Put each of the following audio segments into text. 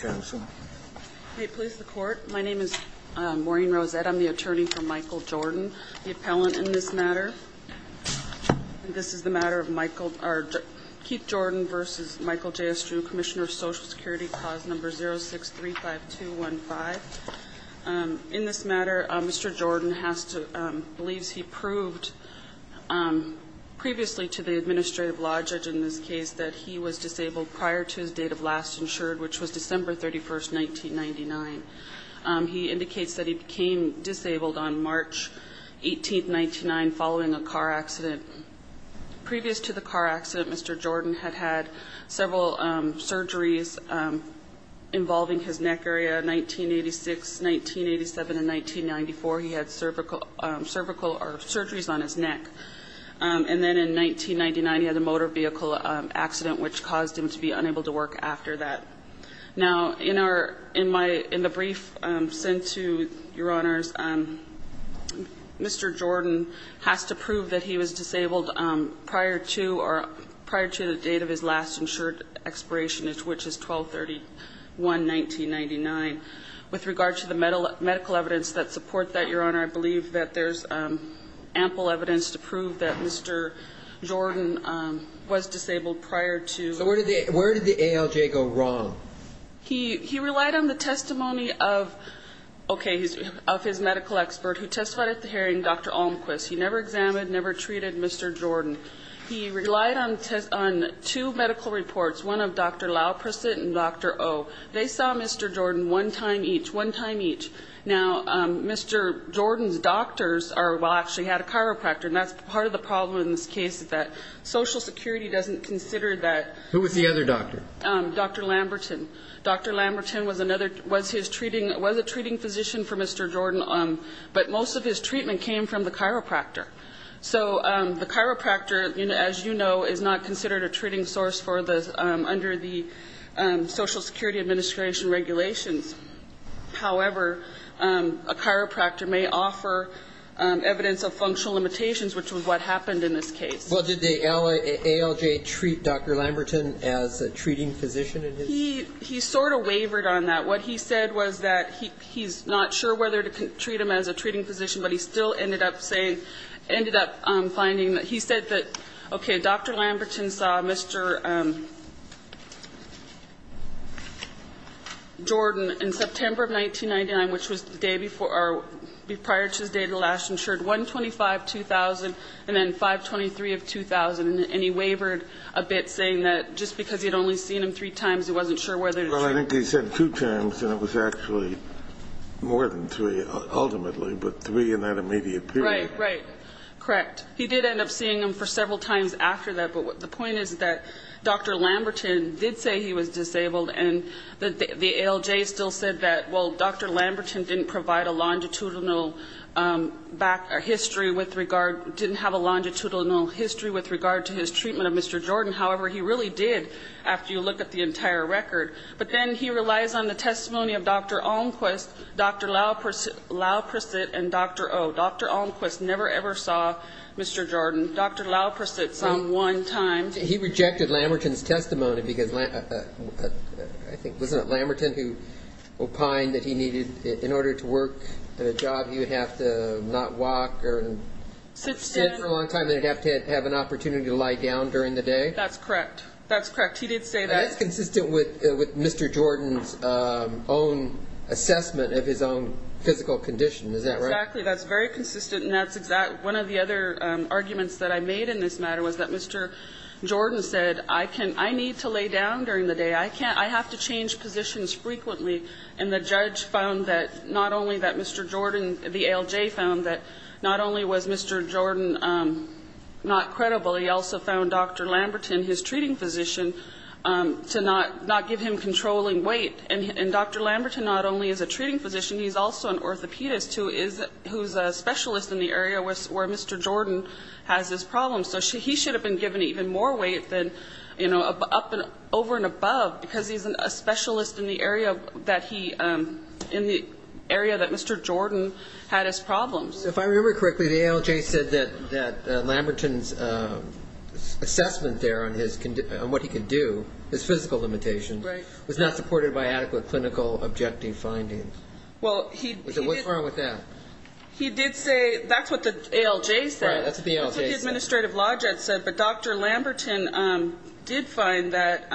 and Michael Jordan. The appellant in this matter, Keith Jordan v. Michael J. Astrue, Commissioner of Social Security, Clause No. 063-5215. In this matter, Mr. Jordan believes he proved previously to the administrative law judge in this case that he was disabled prior to his date of last insurance, which was December 31, 1999. He indicates that he became disabled on March 18, 1999, following a car accident. Previous to the car accident, Mr. Jordan had had several surgeries involving his neck area. 1986, 1987, and 1994, he had cervical or surgeries on his neck. And then in 1999, he had a motor vehicle accident, which caused him to be unable to work after that. Now, in our – in my – in the brief sent to, Your Honors, Mr. Jordan has to prove that he was disabled prior to or – prior to the date of his last insured expirationage, which is 12-31-1999. With regard to the medical evidence that support that, Your Honor, I believe that there's ample evidence to prove that Mr. Jordan was disabled prior to – So where did the – where did the ALJ go wrong? He – he relied on the testimony of – okay, of his medical expert who testified at the hearing, Dr. Olmquist. He never examined, never treated Mr. Jordan. He relied on two medical reports, one of Dr. Lauperson and Dr. O. They saw Mr. Jordan one time each, one time each. Now, Mr. Jordan's doctors are – well, actually had a chiropractor, and that's part of the problem in this case, is that Social Security doesn't consider that. Who was the other doctor? Dr. Lamberton. Dr. Lamberton was another – was his treating – was a treating physician for Mr. Jordan, but most of his treatment came from the chiropractor. So the chiropractor, as you know, is not considered a treating source for the – under the Social Security Administration regulations. However, a chiropractor may offer evidence of functional limitations, which was what happened in this case. Well, did the ALJ treat Dr. Lamberton as a treating physician in his – He – he sort of wavered on that. What he said was that he's not sure whether to treat him as a treating physician, but he still ended up saying – ended up finding that he said that, okay, Dr. Lamberton saw Mr. Jordan in September of 1999, which was the day before – or prior to his date of last insured, 1-25-2000, and then 5-23-2000. And he wavered a bit, saying that just because he had only seen him three times, he wasn't sure whether to treat him. He said two times, and it was actually more than three, ultimately, but three in that immediate period. Right. Right. Correct. He did end up seeing him for several times after that. But the point is that Dr. Lamberton did say he was disabled, and the ALJ still said that, well, Dr. Lamberton didn't provide a longitudinal history with regard – didn't have a longitudinal history with regard to his treatment of Mr. Jordan. However, he really did, after you look at the entire record. But then he relies on the testimony of Dr. Almquist, Dr. Laupercette, and Dr. O. Dr. Almquist never, ever saw Mr. Jordan. Dr. Laupercette saw him one time. He rejected Lamberton's testimony because – I think, wasn't it Lamberton who opined that he needed – in order to work at a job, he would have to not walk or sit for a long time, and he'd have to have an opportunity to lie down during the day? That's correct. That's correct. He did say that. That's consistent with Mr. Jordan's own assessment of his own physical condition. Is that right? Exactly. That's very consistent, and that's exactly – one of the other arguments that I made in this matter was that Mr. Jordan said, I need to lay down during the day. I can't – I have to change positions frequently. And the judge found that not only that Mr. Jordan – the ALJ found that not only was Mr. Jordan not credible, he also found Dr. Lamberton, his treating physician, to not give him controlling weight. And Dr. Lamberton not only is a treating physician, he's also an orthopedist who is – who's a specialist in the area where Mr. Jordan has his problems. So he should have been given even more weight than, you know, up – over and above because he's a specialist in the area that he – in the area that Mr. Jordan had his problems. If I remember correctly, the ALJ said that Lamberton's assessment there on his – on what he could do, his physical limitations, was not supported by adequate clinical objective findings. Well, he did – What's wrong with that? He did say – that's what the ALJ said. Right, that's what the ALJ said. That's what the administrative law judge said. But Dr. Lamberton did find that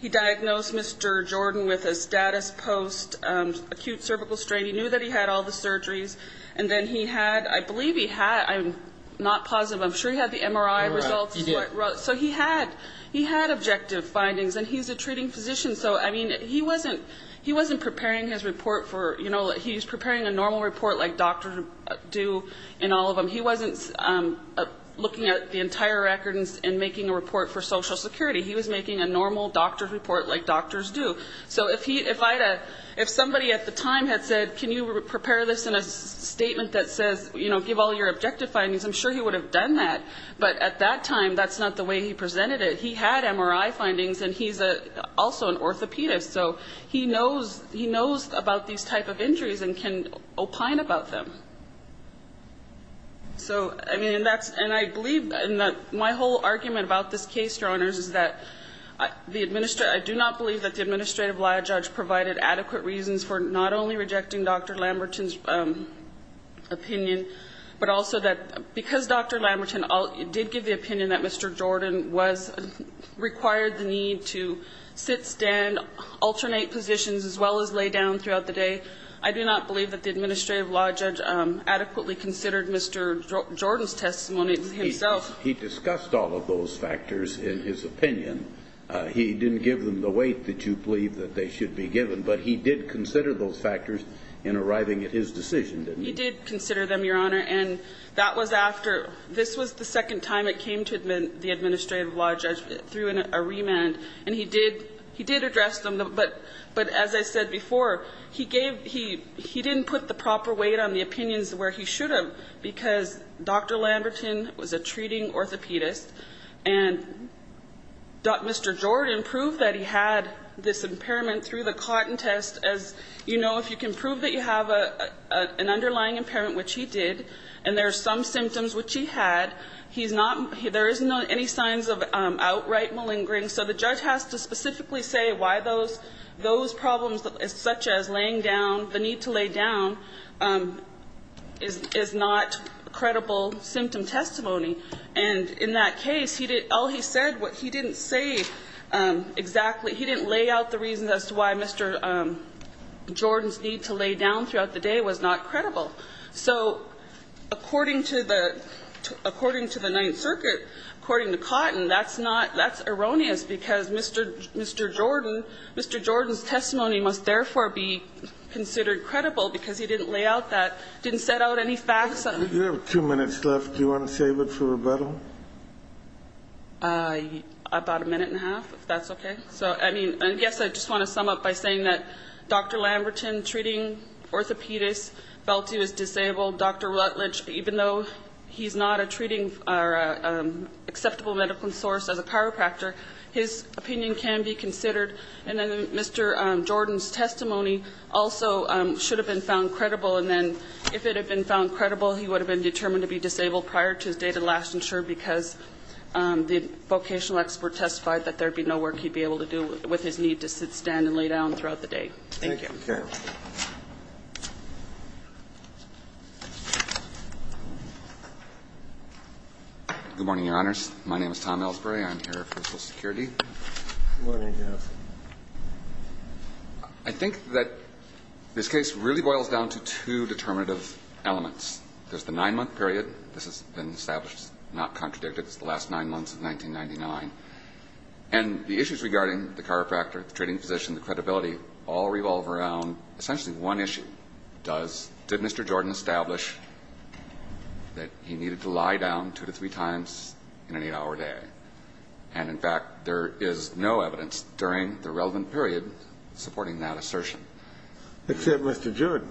he diagnosed Mr. Jordan with a status post-acute cervical strain. He knew that he had all the surgeries. And then he had – I believe he had – I'm not positive. I'm sure he had the MRI results. He did. So he had – he had objective findings. And he's a treating physician. So, I mean, he wasn't – he wasn't preparing his report for – you know, he's preparing a normal report like doctors do in all of them. He wasn't looking at the entire record and making a report for Social Security. He was making a normal doctor's report like doctors do. So if he – if I had a – if somebody at the time had said, can you prepare this in a statement that says, you know, give all your objective findings, I'm sure he would have done that. But at that time, that's not the way he presented it. He had MRI findings, and he's also an orthopedist. So he knows – he knows about these type of injuries and can opine about them. So, I mean, and that's – and I believe – and my whole argument about this case, Your Honors, is that the – I do not believe that the administrative law judge provided adequate reasons for not only rejecting Dr. Lamberton's opinion, but also that because Dr. Lamberton did give the opinion that Mr. Jordan was – required the need to sit, stand, alternate positions, as well as lay down throughout the day, I do not believe that the administrative law judge adequately considered Mr. Jordan's testimony himself. He discussed all of those factors in his opinion. He didn't give them the weight that you believe that they should be given, but he did consider those factors in arriving at his decision, didn't he? He did consider them, Your Honor. And that was after – this was the second time it came to the administrative law judge, through a remand, and he did – he did address them, but as I said before, he gave – he didn't put the proper weight on the opinions where he should have because Dr. Lamberton was a treating orthopedist. And Mr. Jordan proved that he had this impairment through the cotton test. As you know, if you can prove that you have an underlying impairment, which he did, and there are some symptoms which he had, he's not – there is not any signs of outright malingering. So the judge has to specifically say why those – those problems, such as laying down, the need to lay down, is not credible symptom testimony. And in that case, he did – all he said, what he didn't say exactly, he didn't lay out the reasons as to why Mr. Jordan's need to lay down throughout the day was not credible. So according to the – according to the Ninth Circuit, according to Cotton, that's not – that's erroneous because Mr. Jordan – Mr. Jordan's testimony must therefore be considered credible because he didn't lay out that – didn't set out any facts. You have two minutes left. Do you want to save it for rebuttal? About a minute and a half, if that's okay. So, I mean, I guess I just want to sum up by saying that Dr. Lamberton, treating orthopedist, felt he was disabled. Dr. Rutledge, even though he's not a treating or acceptable medical source as a chiropractor, his opinion can be considered. And then Mr. Jordan's testimony also should have been found credible. And then if it had been found credible, he would have been determined to be disabled prior to his day to last insured because the vocational expert testified that there would be no work he'd be able to do with his need to sit, stand and lay down throughout the day. Thank you. Thank you. Good morning, Your Honors. My name is Tom Ellsbury. I'm here for Social Security. Good morning, Your Honor. I think that this case really boils down to two determinative elements. There's the nine-month period. This has been established, not contradicted. It's the last nine months of 1999. And the issues regarding the chiropractor, the treating physician, the credibility all revolve around essentially one issue. Does Mr. Jordan establish that he needed to lie down two to three times in an eight-hour day? And, in fact, there is no evidence during the relevant period supporting that assertion. Except Mr. Jordan.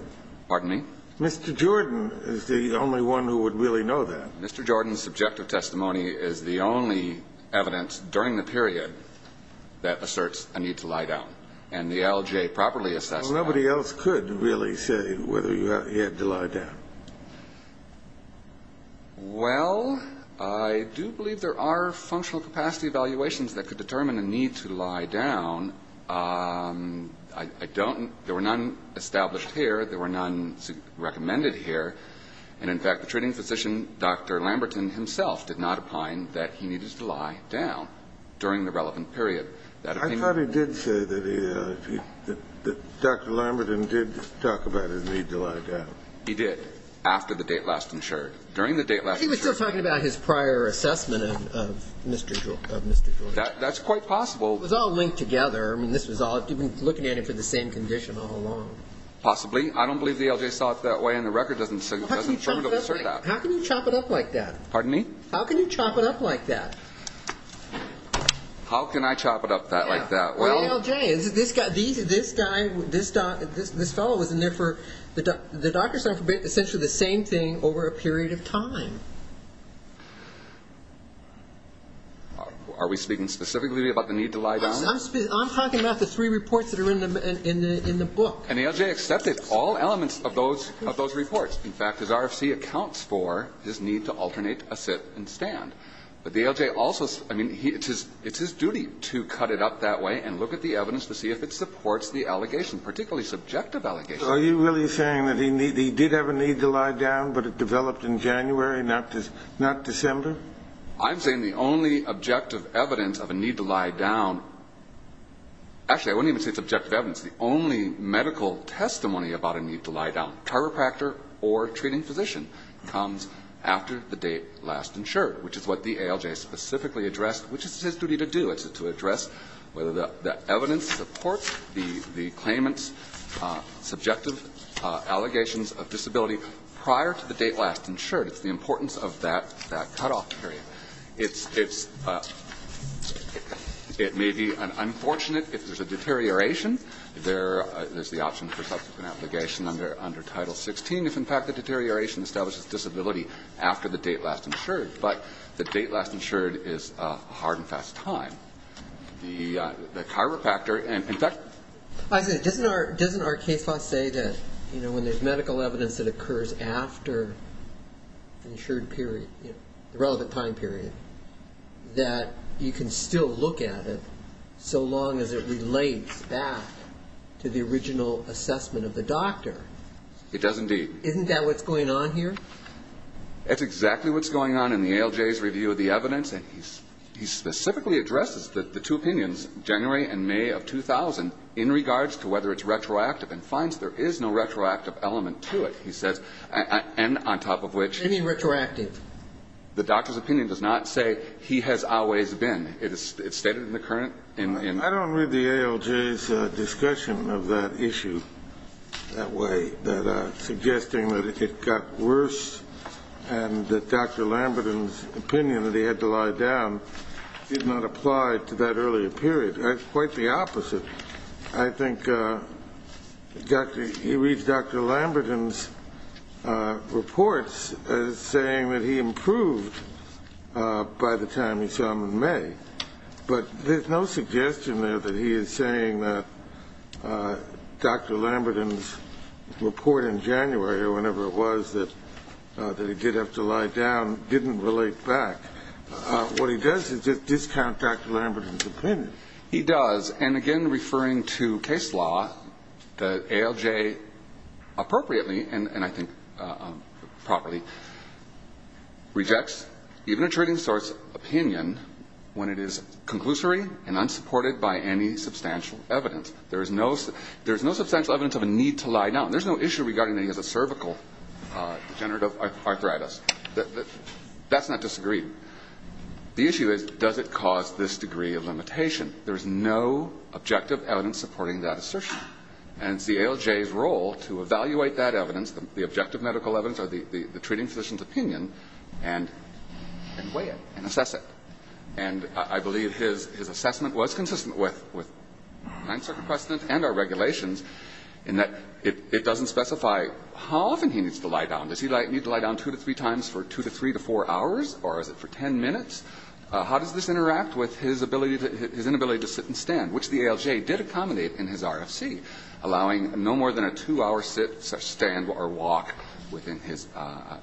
Pardon me? Mr. Jordan is the only one who would really know that. Mr. Jordan's subjective testimony is the only evidence during the period that asserts a need to lie down. And the LJ properly assessed that. Nobody else could really say whether he had to lie down. Well, I do believe there are functional capacity evaluations that could determine a need to lie down. I don't – there were none established here. There were none recommended here. And, in fact, the treating physician, Dr. Lamberton himself, did not opine that he needed to lie down during the relevant period. I thought he did say that he – that Dr. Lamberton did talk about his need to lie down. He did. After the date last insured. During the date last insured. He was still talking about his prior assessment of Mr. Jordan. That's quite possible. It was all linked together. I mean, this was all – looking at him for the same condition all along. Possibly. I don't believe the LJ saw it that way. And the record doesn't affirmatively assert that. How can you chop it up like that? Pardon me? How can you chop it up like that? How can I chop it up like that? Well – This guy – this fellow was in there for – the doctor said essentially the same thing over a period of time. Are we speaking specifically about the need to lie down? I'm talking about the three reports that are in the book. And the LJ accepted all elements of those reports. In fact, his RFC accounts for his need to alternate a sit and stand. But the LJ also – I mean, it's his duty to cut it up that way and look at the evidence to see if it supports the allegation, particularly subjective allegations. So are you really saying that he did have a need to lie down, but it developed in January, not December? I'm saying the only objective evidence of a need to lie down – actually, I wouldn't even say it's objective evidence. The only medical testimony about a need to lie down, chiropractor or treating physician, comes after the date last insured, which is what the ALJ specifically addressed, which is his duty to do. It's to address whether the evidence supports the claimant's subjective allegations of disability prior to the date last insured. It's the importance of that cutoff period. It's – it may be unfortunate if there's a deterioration. There's the option for subsequent obligation under Title 16 if, in fact, the deterioration establishes disability after the date last insured. But the date last insured is a hard and fast time. The chiropractor – in fact – I say, doesn't our case law say that when there's medical evidence that occurs after the insured period, the relevant time period, that you can still look at it so long as it relates back to the original assessment of the doctor? It does indeed. Isn't that what's going on here? That's exactly what's going on in the ALJ's review of the evidence. And he specifically addresses the two opinions, January and May of 2000, in regards to whether it's retroactive and finds there is no retroactive element to it. He says – and on top of which – Any retroactive. The doctor's opinion does not say he has always been. It's stated in the current – in – I don't read the ALJ's discussion of that issue that way, that suggesting that it got worse and that Dr. Lamberton's opinion that he had to lie down did not apply to that earlier period. Quite the opposite. I think he reads Dr. Lamberton's reports as saying that he improved by the time he saw them in May. But there's no suggestion there that he is saying that Dr. Lamberton's report in January or whenever it was that he did have to lie down didn't relate back. What he does is just discount Dr. Lamberton's opinion. He does. And, again, referring to case law, the ALJ appropriately, and I think properly, rejects even a trading source opinion when it is conclusory and unsupported by any substantial evidence. There is no substantial evidence of a need to lie down. There's no issue regarding that he has a cervical degenerative arthritis. That's not disagreed. The issue is does it cause this degree of limitation. There is no objective evidence supporting that assertion. And it's the ALJ's role to evaluate that evidence, the objective medical evidence or the treating physician's opinion, and weigh it and assess it. And I believe his assessment was consistent with 9th Circuit precedent and our regulations in that it doesn't specify how often he needs to lie down. Does he need to lie down two to three times for two to three to four hours or is it for ten minutes? How does this interact with his inability to sit and stand, which the ALJ did accommodate in his RFC, allowing no more than a two-hour sit, stand, or walk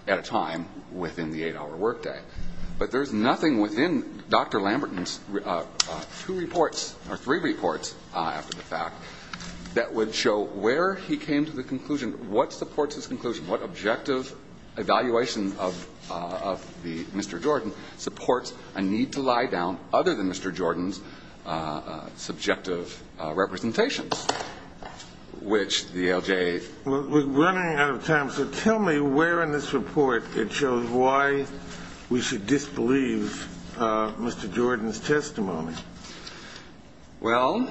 at a time within the eight-hour workday. But there's nothing within Dr. Lamberton's two reports or three reports, after the fact, that would show where he came to the conclusion, what supports his conclusion, what objective evaluation of Mr. Jordan supports a need to lie down other than Mr. Jordan's subjective representations, which the ALJ. We're running out of time. So tell me where in this report it shows why we should disbelieve Mr. Jordan's testimony. Well,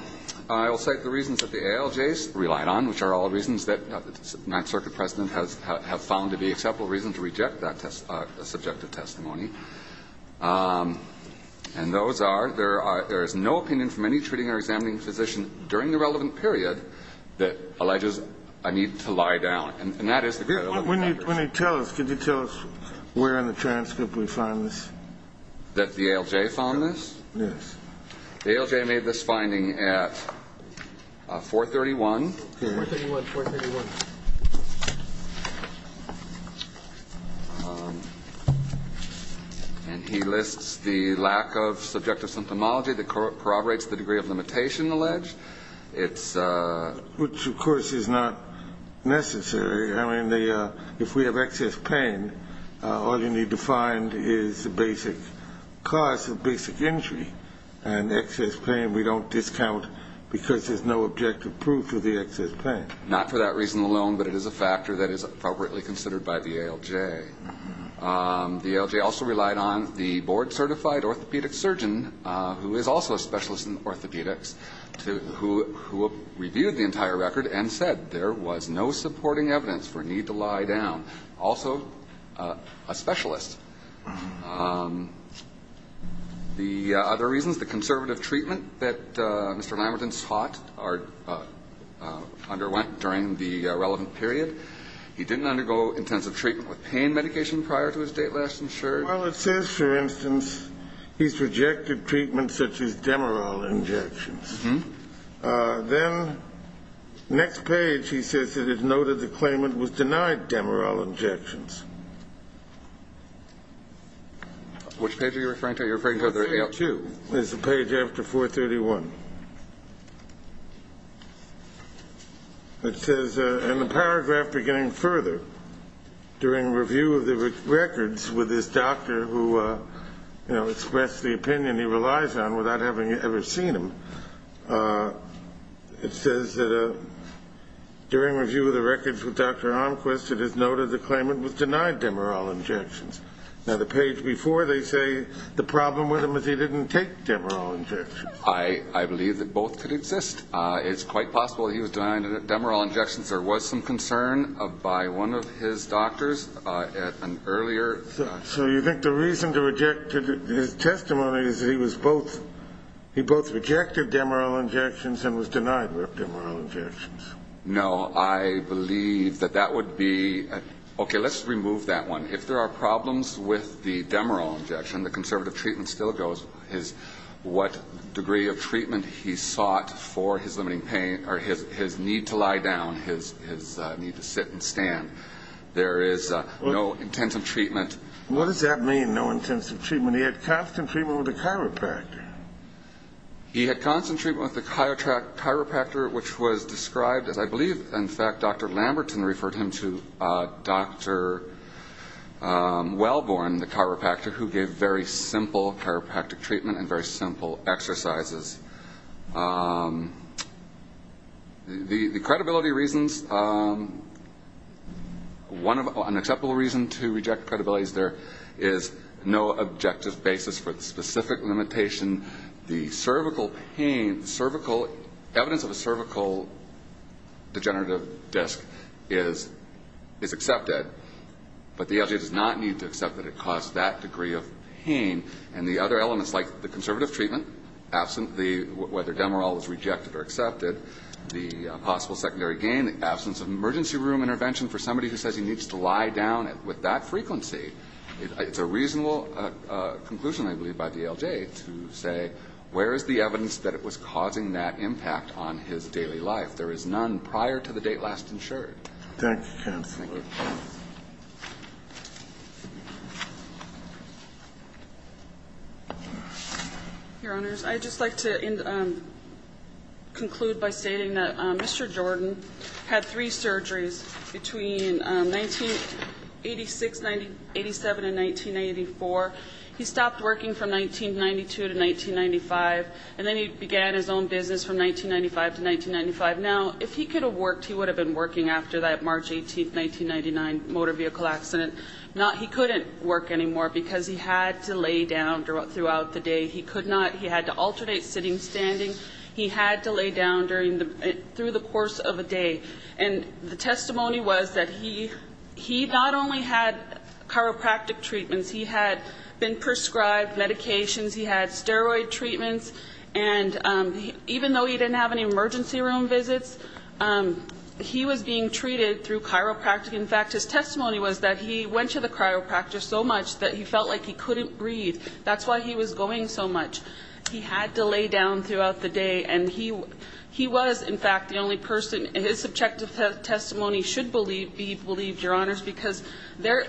I will cite the reasons that the ALJ relied on, which are all reasons that the 9th Circuit precedent has found to be acceptable reasons to reject that subjective testimony. And those are there is no opinion from any treating or examining physician during the relevant period that alleges a need to lie down. And that is the great element of this. When you tell us, can you tell us where in the transcript we find this? That the ALJ found this? Yes. The ALJ made this finding at 431. 431, 431. And he lists the lack of subjective symptomology that corroborates the degree of limitation alleged. It's a ---- Which, of course, is not necessary. I mean, if we have excess pain, all you need to find is the basic cause of basic injury. And excess pain we don't discount because there's no objective proof of the excess pain. Not for that reason alone, but it is a factor that is appropriately considered by the ALJ. The ALJ also relied on the board-certified orthopedic surgeon, who is also a specialist in orthopedics, who reviewed the entire record and said there was no supporting evidence for a need to lie down. Also a specialist. The other reasons, the conservative treatment that Mr. Lamberton sought or underwent during the relevant period, he didn't undergo intensive treatment with pain medication prior to his date last insured. Well, it says, for instance, he's rejected treatment such as Demerol injections. Then next page he says it is noted the claimant was denied Demerol injections. Which page are you referring to? You're referring to the AL2. The AL2 is the page after 431. It says in the paragraph beginning further, during review of the records with this doctor who expressed the opinion he relies on without having ever seen him, it says that during review of the records with Dr. Armquist, it is noted the claimant was denied Demerol injections. Now, the page before they say the problem with him is he didn't take Demerol injections. I believe that both could exist. It's quite possible he was denied Demerol injections. There was some concern by one of his doctors at an earlier time. So you think the reason to reject his testimony is that he both rejected Demerol injections and was denied Demerol injections? No. I believe that that would be a ñ okay, let's remove that one. If there are problems with the Demerol injection, the conservative treatment still goes. What degree of treatment he sought for his limiting pain or his need to lie down, his need to sit and stand. There is no intensive treatment. What does that mean, no intensive treatment? He had constant treatment with a chiropractor. He had constant treatment with a chiropractor, which was described, as I believe, in fact, Dr. Lamberton referred him to Dr. Wellborn, the chiropractor, who gave very simple chiropractic treatment and very simple exercises. The credibility reasons, an acceptable reason to reject credibility is there is no objective basis for the specific limitation. The cervical pain, the cervical, evidence of a cervical degenerative disc is accepted, but the FDA does not need to accept that it caused that degree of pain. And the other elements, like the conservative treatment, whether Demerol is rejected or accepted, the possible secondary gain, the absence of emergency room intervention for somebody who says he needs to lie down, with that frequency, it's a reasonable conclusion, I believe, by DLJ to say, where is the evidence that it was causing that impact on his daily life? There is none prior to the date last insured. Thank you. Thank you. Your Honors, I'd just like to conclude by stating that Mr. Jordan had three surgeries between 1986, 1987, and 1984. He stopped working from 1992 to 1995, and then he began his own business from 1995 to 1995. Now, if he could have worked, he would have been working after that March 18, 1995. Motor vehicle accident. Now, he couldn't work anymore because he had to lay down throughout the day. He could not. He had to alternate sitting, standing. He had to lay down during the, through the course of a day. And the testimony was that he not only had chiropractic treatments, he had been prescribed medications, he had steroid treatments, and even though he didn't have any emergency room visits, he was being treated through chiropractic. In fact, his testimony was that he went to the chiropractor so much that he felt like he couldn't breathe. That's why he was going so much. He had to lay down throughout the day, and he was, in fact, the only person, and his subjective testimony should be believed, Your Honors, because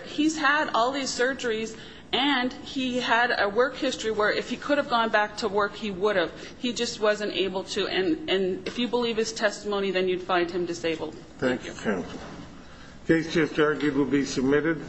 he's had all these surgeries, and he had a work history where if he could have gone back to work, he would have. He just wasn't able to. And if you believe his testimony, then you'd find him disabled. Thank you. Thank you. Case just argued will be submitted.